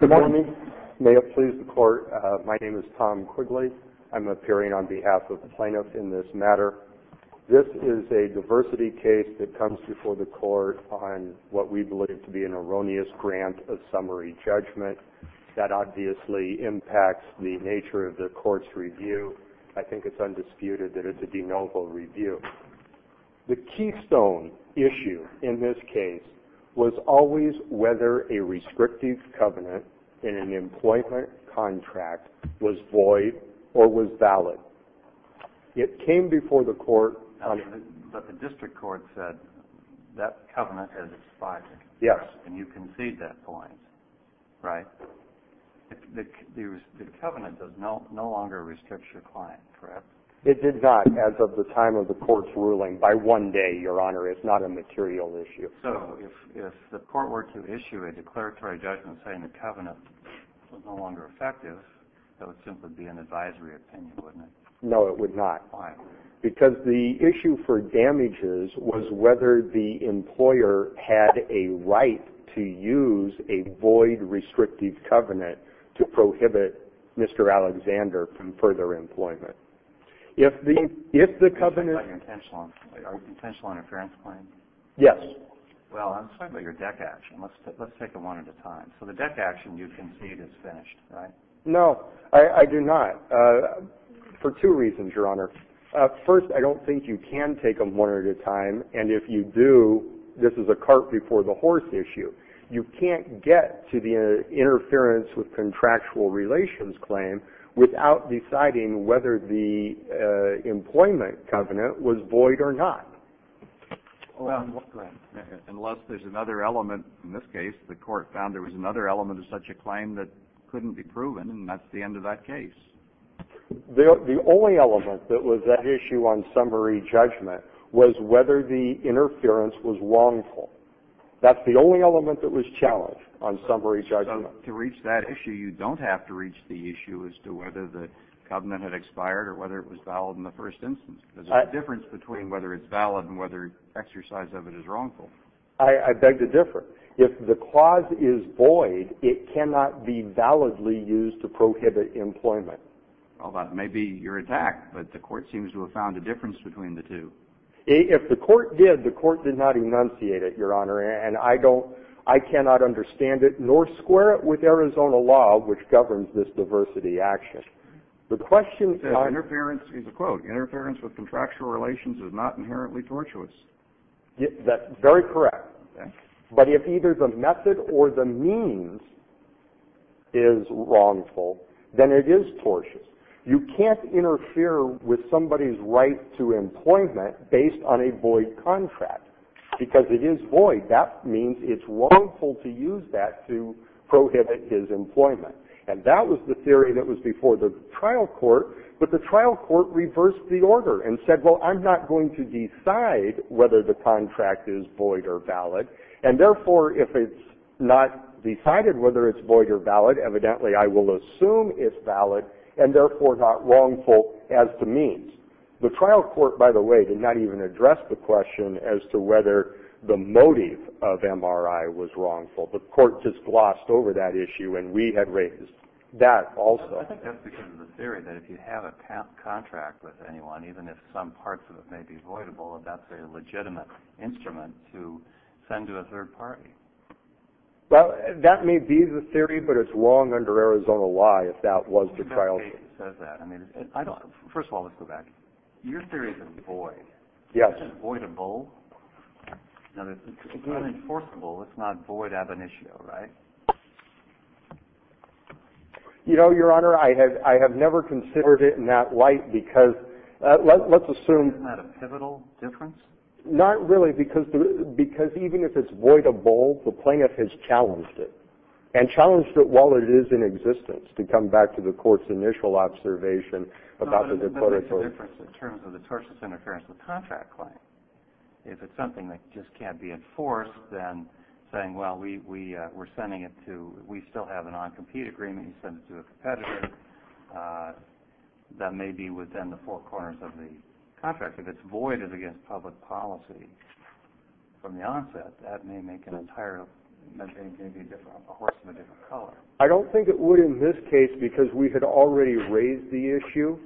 Good morning. May it please the court, my name is Tom Quigley. I'm appearing on behalf of the plaintiffs in this matter. This is a diversity case that comes before the court on what we believe to be an erroneous grant of summary judgment that obviously impacts the nature of the court's review. I think it's undisputed that it's a de novo review. The keystone issue in this case was always whether a restrictive covenant in an employment contract was void or was valid. It came before the court. But the district court said that covenant is expired. Yes. And you concede that point, right? The covenant no longer restricts your client, correct? It did not, as of the time of the court's ruling. By one day, your honor, it's not a material issue. So if the court were to issue a declaratory judgment saying the covenant was no longer effective, that would simply be an advisory opinion, wouldn't it? No, it would not. Why? Because the issue for damages was whether the employer had a right to use a void restrictive covenant to prohibit Mr. Alexander from further employment. If the covenant... Are you talking about your potential interference claim? Yes. Well, I'm talking about your deck action. Let's take it one at a time. So the deck action you concede is finished, right? No, I do not, for two reasons, your honor. First, I don't think you can take them one at a time, and if you do, this is a cart before the horse issue. You can't get to the interference with contractual relations claim without deciding whether the employment covenant was void or not. Unless there's another element. In this case, the court found there was another element of such a claim that couldn't be proven, and that's the end of that case. The only element that was at issue on summary judgment was whether the interference was wrongful. That's the only element that was challenged on summary judgment. So to reach that issue, you don't have to reach the issue as to whether the covenant had expired or whether it was valid in the first instance. There's a difference between whether it's valid and whether exercise of it is wrongful. I beg to differ. If the clause is void, it cannot be validly used to prohibit employment. Well, that may be your attack, but the court seems to have found a difference between the two. If the court did, the court did not enunciate it, your honor, and I cannot understand it, nor square it with Arizona law, which governs this diversity action. The question... Interference is a quote. Interference with contractual relations is not inherently tortuous. That's very correct. But if either the method or the means is wrongful, then it is tortuous. You can't interfere with somebody's right to employment based on a void contract. Because it is void, that means it's wrongful to use that to prohibit his employment. And that was the theory that was before the trial court, but the trial court reversed the order and said, well, I'm not going to decide whether the contract is void or valid, and therefore if it's not decided whether it's void or valid, evidently I will assume it's valid, and therefore not wrongful as to means. The trial court, by the way, did not even address the question as to whether the motive of MRI was wrongful. The court just glossed over that issue, and we had raised that also. I think that's because of the theory that if you have a contract with anyone, even if some parts of it may be voidable, that's a legitimate instrument to send to a third party. Well, that may be the theory, but it's long under Arizona law if that was the trial court. I don't think it says that. First of all, let's go back. Your theory is void. Yes. That's just voidable. It's unenforceable. It's not void ab initio, right? No. You know, Your Honor, I have never considered it in that light because let's assume... Isn't that a pivotal difference? Not really, because even if it's voidable, the plaintiff has challenged it, and challenged it while it is in existence, to come back to the court's initial observation about the... No, but there's a difference in terms of the tortious interference of the contract claim. If it's something that just can't be enforced, then saying, well, we're sending it to... We still have an on-compete agreement. He sends it to a competitor. That may be within the four corners of the contract. If it's voided against public policy from the onset, that may make an entire... That may be a horse of a different color. I don't think it would in this case because we had already raised the issue.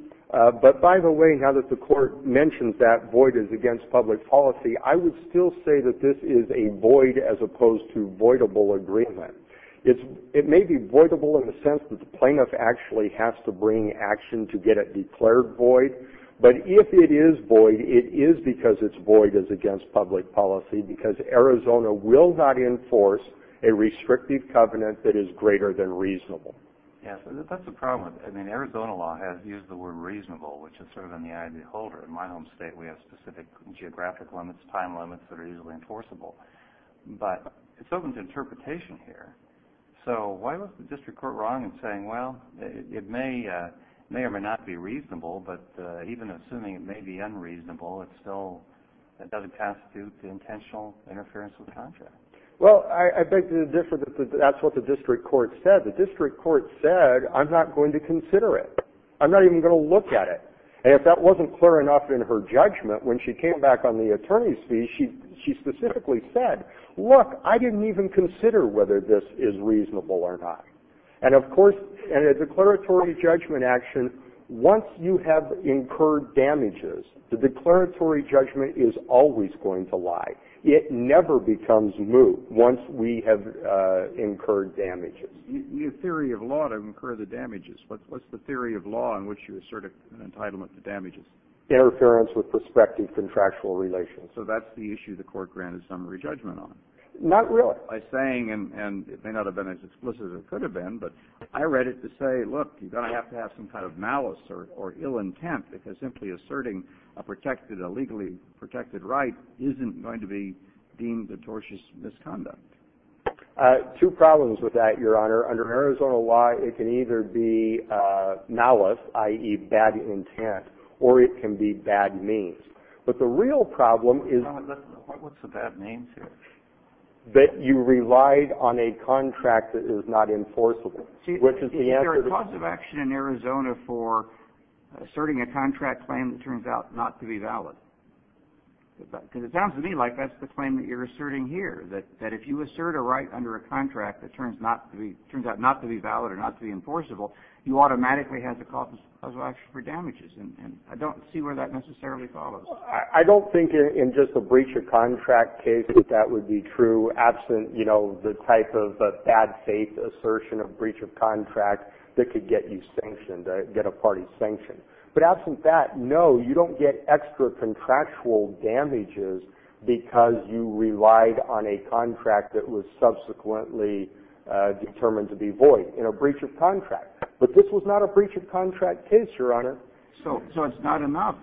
But by the way, now that the court mentioned that void is against public policy, I would still say that this is a void as opposed to voidable agreement. It may be voidable in the sense that the plaintiff actually has to bring action to get it declared void, but if it is void, it is because it's void as against public policy, because Arizona will not enforce a restrictive covenant that is greater than reasonable. Yes, that's the problem. I mean, Arizona law has used the word reasonable, which is sort of in the eye of the beholder. In my home state, we have specific geographic limits, time limits that are easily enforceable. But it's open to interpretation here. So why was the district court wrong in saying, well, it may or may not be reasonable, but even assuming it may be unreasonable, it still doesn't constitute the intentional interference of the contract? Well, I think the difference is that that's what the district court said. The district court said, I'm not going to consider it. I'm not even going to look at it. And if that wasn't clear enough in her judgment, when she came back on the attorney's fee, she specifically said, look, I didn't even consider whether this is reasonable or not. And, of course, in a declaratory judgment action, once you have incurred damages, the declaratory judgment is always going to lie. It never becomes moot once we have incurred damages. You need a theory of law to incur the damages. What's the theory of law in which you assert an entitlement to damages? Interference with prospective contractual relations. So that's the issue the court granted summary judgment on. Not really. By saying, and it may not have been as explicit as it could have been, but I read it to say, look, you're going to have to have some kind of malice or ill intent because simply asserting a legally protected right isn't going to be deemed a tortious misconduct. Two problems with that, Your Honor. Under Arizona law, it can either be malice, i.e., bad intent, or it can be bad means. But the real problem is that you relied on a contract that is not enforceable. Is there a cause of action in Arizona for asserting a contract claim that turns out not to be valid? Because it sounds to me like that's the claim that you're asserting here, that if you assert a right under a contract that turns out not to be valid or not to be enforceable, you automatically have the cause of action for damages. And I don't see where that necessarily follows. I don't think in just a breach of contract case that that would be true, absent the type of bad faith assertion of breach of contract that could get you sanctioned, get a party sanctioned. But absent that, no, you don't get extra contractual damages because you relied on a contract that was subsequently determined to be void in a breach of contract. But this was not a breach of contract case, Your Honor. So it's not enough.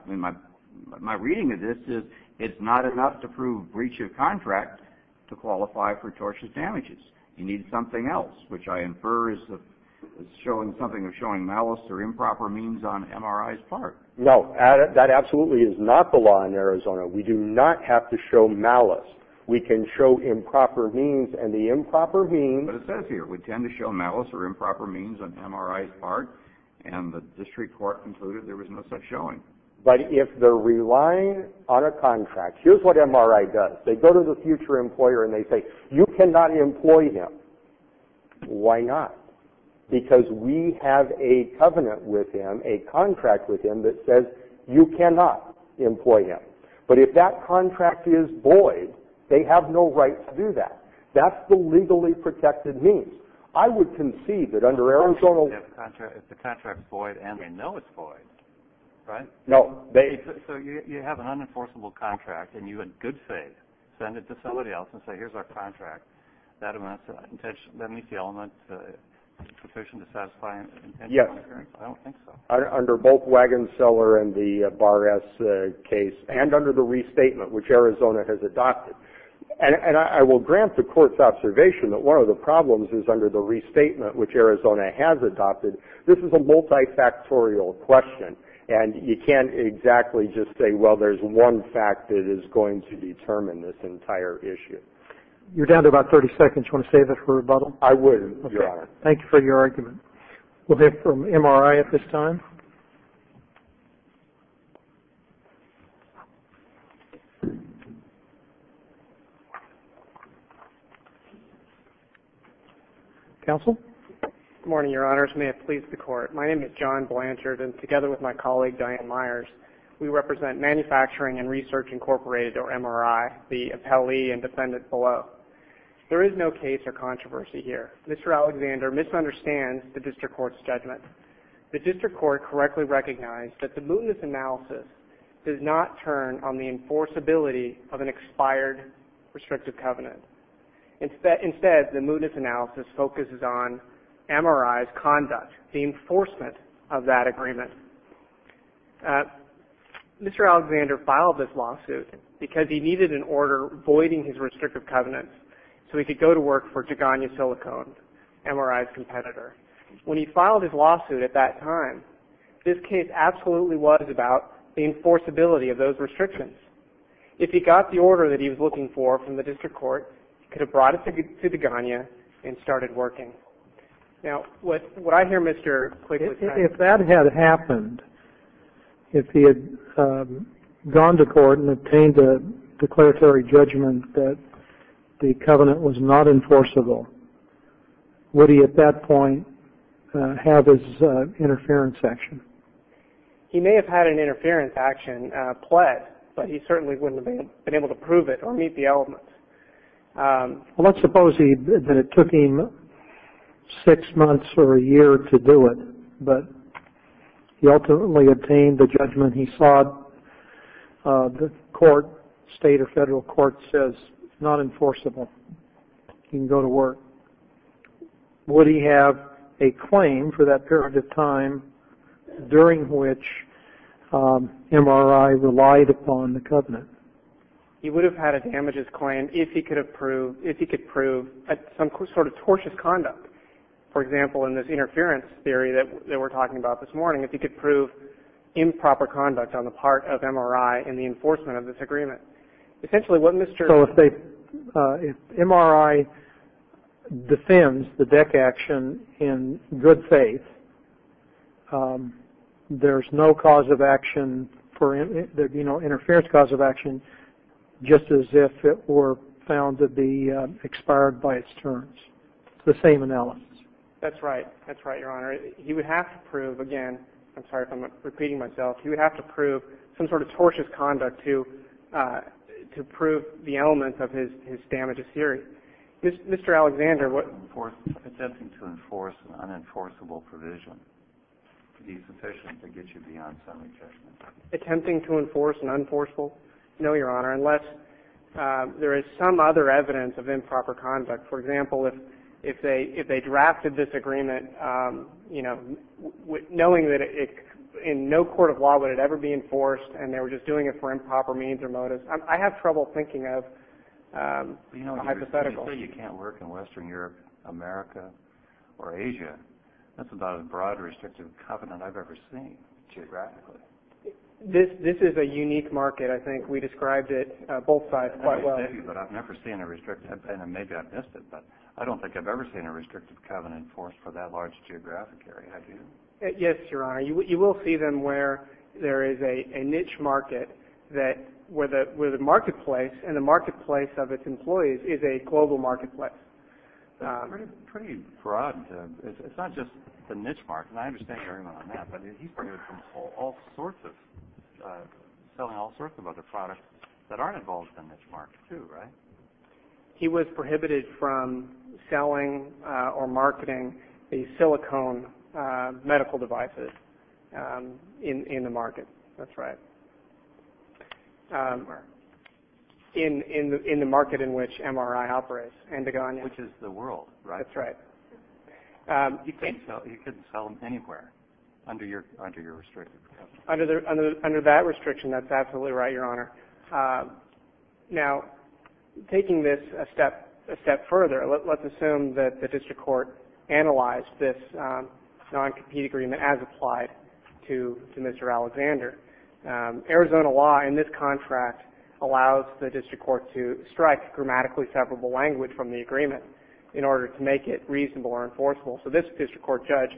My reading of this is it's not enough to prove breach of contract to qualify for tortious damages. You need something else, which I infer is something of showing malice or improper means on MRI's part. No, that absolutely is not the law in Arizona. We do not have to show malice. We can show improper means, and the improper means... And the district court concluded there was no such showing. But if they're relying on a contract, here's what MRI does. They go to the future employer and they say, you cannot employ him. Why not? Because we have a covenant with him, a contract with him that says you cannot employ him. But if that contract is void, they have no right to do that. That's the legally protected means. I would concede that under Arizona... If the contract is void and they know it's void, right? No. So you have an unenforceable contract and you in good faith send it to somebody else and say, here's our contract, that meets the element sufficient to satisfy an intention of incurring? Yes. I don't think so. Under both Wagon Cellar and the Bar S case, and under the restatement, which Arizona has adopted. And I will grant the court's observation that one of the problems is under the restatement, which Arizona has adopted, this is a multifactorial question. And you can't exactly just say, well, there's one fact that is going to determine this entire issue. You're down to about 30 seconds. Do you want to save it for rebuttal? I would, Your Honor. Thank you for your argument. We'll hear from MRI at this time. Counsel? Good morning, Your Honors. May it please the Court. My name is John Blanchard, and together with my colleague, Diane Myers, we represent Manufacturing and Research Incorporated, or MRI, the appellee and defendant below. There is no case or controversy here. Mr. Alexander misunderstands the district court's judgment. The district court correctly recognized that the mootness analysis does not turn on the enforceability of an expired restrictive covenant. Instead, the mootness analysis focuses on MRI's conduct, the enforcement of that agreement. Mr. Alexander filed this lawsuit because he needed an order voiding his restrictive covenants so he could go to work for Jagania Silicone, MRI's competitor. When he filed his lawsuit at that time, this case absolutely was about the enforceability of those restrictions. If he got the order that he was looking for from the district court, he could have brought it to Jagania and started working. Now, what I hear, Mr. Quigley- If that had happened, if he had gone to court and obtained a declaratory judgment that the covenant was not enforceable, would he at that point have his interference action? He may have had an interference action pled, but he certainly wouldn't have been able to prove it or meet the elements. Let's suppose that it took him six months or a year to do it, but he ultimately obtained the judgment he sought. The court, state or federal court, says it's not enforceable. He can go to work. Would he have a claim for that period of time during which MRI relied upon the covenant? He would have had a damages claim if he could prove some sort of tortious conduct. For example, in this interference theory that we're talking about this morning, if he could prove improper conduct on the part of MRI in the enforcement of this agreement. So if MRI defends the DEC action in good faith, there's no cause of action, interference cause of action, just as if it were found to be expired by its terms, the same analysis. That's right, that's right, Your Honor. He would have to prove, again, I'm sorry if I'm repeating myself, he would have to prove some sort of tortious conduct to prove the elements of his damages theory. Mr. Alexander, what- Attempting to enforce an unenforceable provision. Would be sufficient to get you beyond summary judgment. Attempting to enforce an unenforceable? No, Your Honor, unless there is some other evidence of improper conduct. For example, if they drafted this agreement, you know, knowing that in no court of law would it ever be enforced, and they were just doing it for improper means or motives. I have trouble thinking of a hypothetical. You know, you say you can't work in Western Europe, America, or Asia. That's about as broad a restrictive covenant I've ever seen, geographically. This is a unique market. I think we described it, both sides, quite well. Maybe, but I've never seen a restrictive covenant. Maybe I've missed it, but I don't think I've ever seen a restrictive covenant enforced for that large geographic area, have you? Yes, Your Honor. You will see them where there is a niche market, where the marketplace and the marketplace of its employees is a global marketplace. It's pretty broad. It's not just the niche market. I understand everyone on that, but he's prohibited from selling all sorts of other products that aren't involved in the niche market, too, right? He was prohibited from selling or marketing the silicone medical devices in the market. That's right. In the market in which MRI operates, Endogonia. Which is the world, right? That's right. You couldn't sell them anywhere under your restrictive covenant. Under that restriction, that's absolutely right, Your Honor. Now, taking this a step further, let's assume that the district court analyzed this non-compete agreement as applied to Mr. Alexander. Arizona law in this contract allows the district court to strike grammatically separable language from the agreement in order to make it reasonable or enforceable. So this district court judge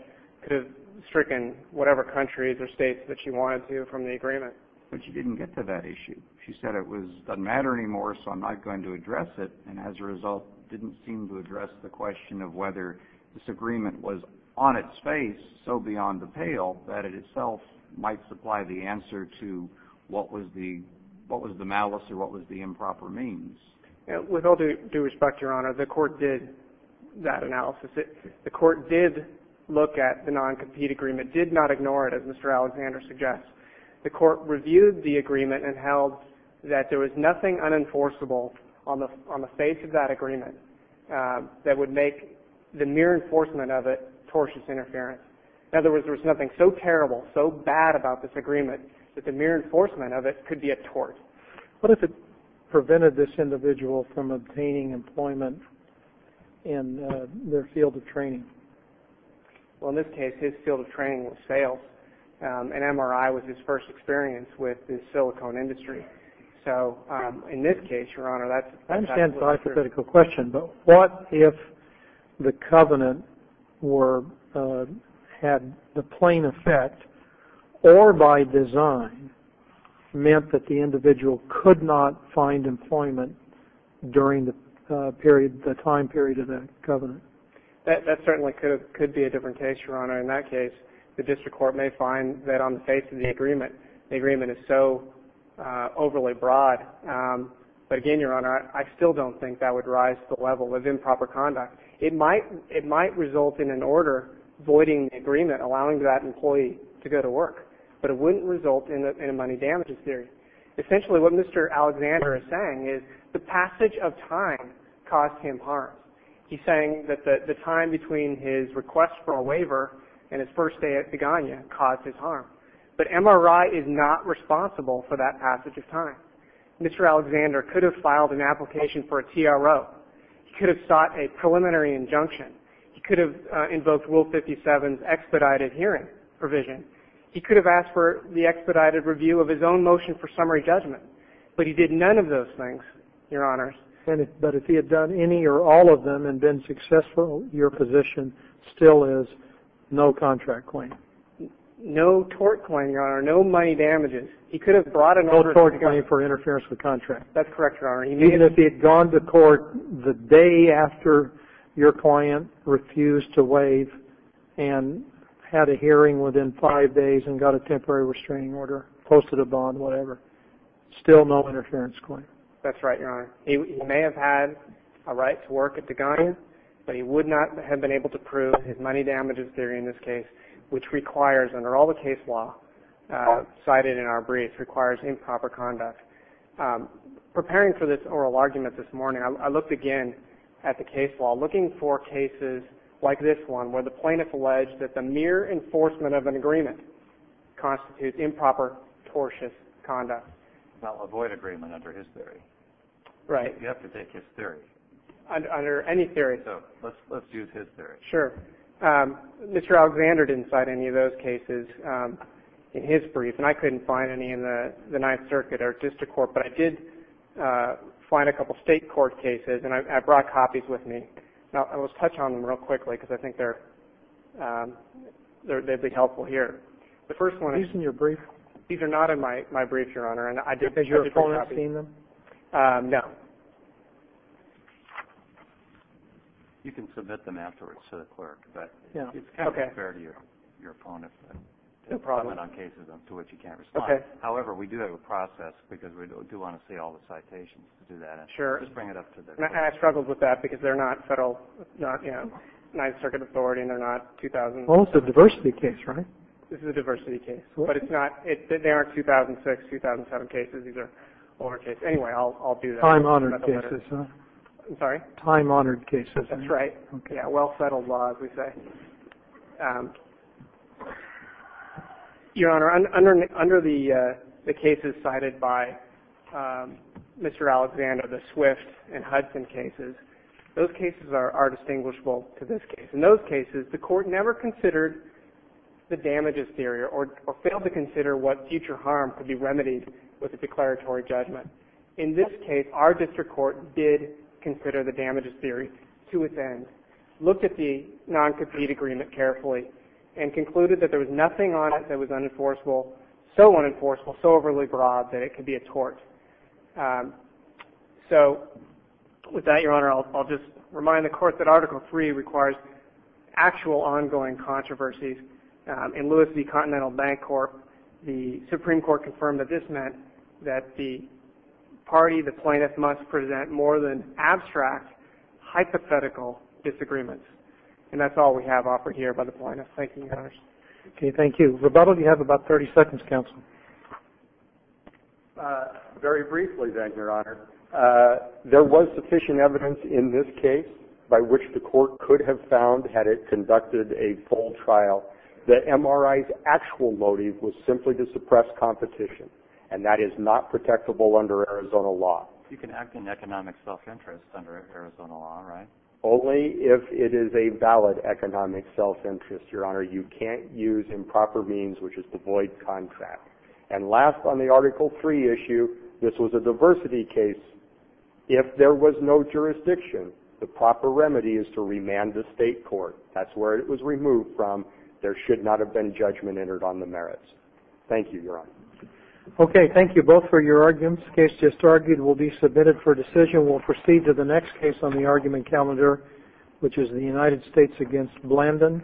could have stricken whatever countries or states that she wanted to from the agreement. But she didn't get to that issue. She said it doesn't matter anymore, so I'm not going to address it, and as a result didn't seem to address the question of whether this agreement was on its face so beyond the pale that it itself might supply the answer to what was the malice or what was the improper means. With all due respect, Your Honor, the court did that analysis. The court did look at the non-compete agreement, did not ignore it, as Mr. Alexander suggests. The court reviewed the agreement and held that there was nothing unenforceable on the face of that agreement that would make the mere enforcement of it tortious interference. In other words, there was nothing so terrible, so bad about this agreement, that the mere enforcement of it could be a tort. What if it prevented this individual from obtaining employment in their field of training? Well, in this case, his field of training was sales, and MRI was his first experience with the silicone industry. So in this case, Your Honor, that's absolutely true. I understand the hypothetical question, but what if the covenant had the plain effect or by design meant that the individual could not find employment during the time period of the covenant? That certainly could be a different case, Your Honor. In that case, the district court may find that on the face of the agreement, the agreement is so overly broad. But again, Your Honor, I still don't think that would rise to the level of improper conduct. It might result in an order voiding the agreement, allowing that employee to go to work. But it wouldn't result in a money damages theory. Essentially, what Mr. Alexander is saying is the passage of time caused him harm. He's saying that the time between his request for a waiver and his first day at Begonia caused his harm. But MRI is not responsible for that passage of time. Mr. Alexander could have filed an application for a TRO. He could have sought a preliminary injunction. He could have invoked Rule 57's expedited hearing provision. He could have asked for the expedited review of his own motion for summary judgment. But he did none of those things, Your Honors. But if he had done any or all of them and been successful, your position still is no contract claim. No tort claim, Your Honor. No money damages. He could have brought an order. No tort claim for interference with contract. That's correct, Your Honor. Even if he had gone to court the day after your client refused to waive and had a hearing within five days and got a temporary restraining order, posted a bond, whatever, still no interference claim. That's right, Your Honor. He may have had a right to work at Begonia, but he would not have been able to prove his money damages theory in this case, which requires, under all the case law cited in our brief, requires improper conduct. Preparing for this oral argument this morning, I looked again at the case law, looking for cases like this one where the plaintiff alleged that the mere enforcement of an agreement constitutes improper, tortious conduct. Now, avoid agreement under his theory. Right. You have to take his theory. Under any theory. So let's use his theory. Sure. Mr. Alexander didn't cite any of those cases in his brief, and I couldn't find any in the Ninth Circuit or district court, but I did find a couple state court cases, and I brought copies with me. Now, let's touch on them real quickly, because I think they'd be helpful here. These are in your brief? These are not in my brief, Your Honor. Did your opponent see them? No. You can submit them afterwards to the clerk, but it's kind of unfair to your opponent to submit on cases to which you can't respond. Okay. However, we do have a process, because we do want to see all the citations to do that. Sure. Just bring it up to the clerk. And I struggled with that, because they're not federal, not, you know, Ninth Circuit authority, and they're not 2000. Well, it's a diversity case, right? This is a diversity case, but it's not. They aren't 2006, 2007 cases. These are older cases. Anyway, I'll do that. Time-honored cases, huh? I'm sorry? Time-honored cases. That's right. Okay. Yeah, well-settled laws, we say. Your Honor, under the cases cited by Mr. Alexander, the Swift and Hudson cases, those cases are distinguishable to this case. In those cases, the court never considered the damages theory or failed to consider what future harm could be remedied with a declaratory judgment. In this case, our district court did consider the damages theory to its end, looked at the non-concrete damages theory, looked at the deed agreement carefully, and concluded that there was nothing on it that was unenforceable, so unenforceable, so overly broad, that it could be a tort. So with that, Your Honor, I'll just remind the Court that Article III requires actual ongoing controversies. In Lewis v. Continental Bank Corp., the Supreme Court confirmed that this meant that the party, the plaintiff, must present more than abstract hypothetical disagreements. And that's all we have offered here by the plaintiff. Thank you, Your Honor. Okay, thank you. Rebuttal, you have about 30 seconds, counsel. Very briefly, then, Your Honor, there was sufficient evidence in this case by which the court could have found, had it conducted a full trial, that MRI's actual motive was simply to suppress competition, and that is not protectable under Arizona law. You can act in economic self-interest under Arizona law, right? Only if it is a valid economic self-interest, Your Honor. You can't use improper means, which is to void contract. And last, on the Article III issue, this was a diversity case. If there was no jurisdiction, the proper remedy is to remand the state court. That's where it was removed from. There should not have been judgment entered on the merits. Thank you, Your Honor. Okay, thank you both for your arguments. This case just argued will be submitted for decision. We'll proceed to the next case on the argument calendar, which is the United States against Blandin.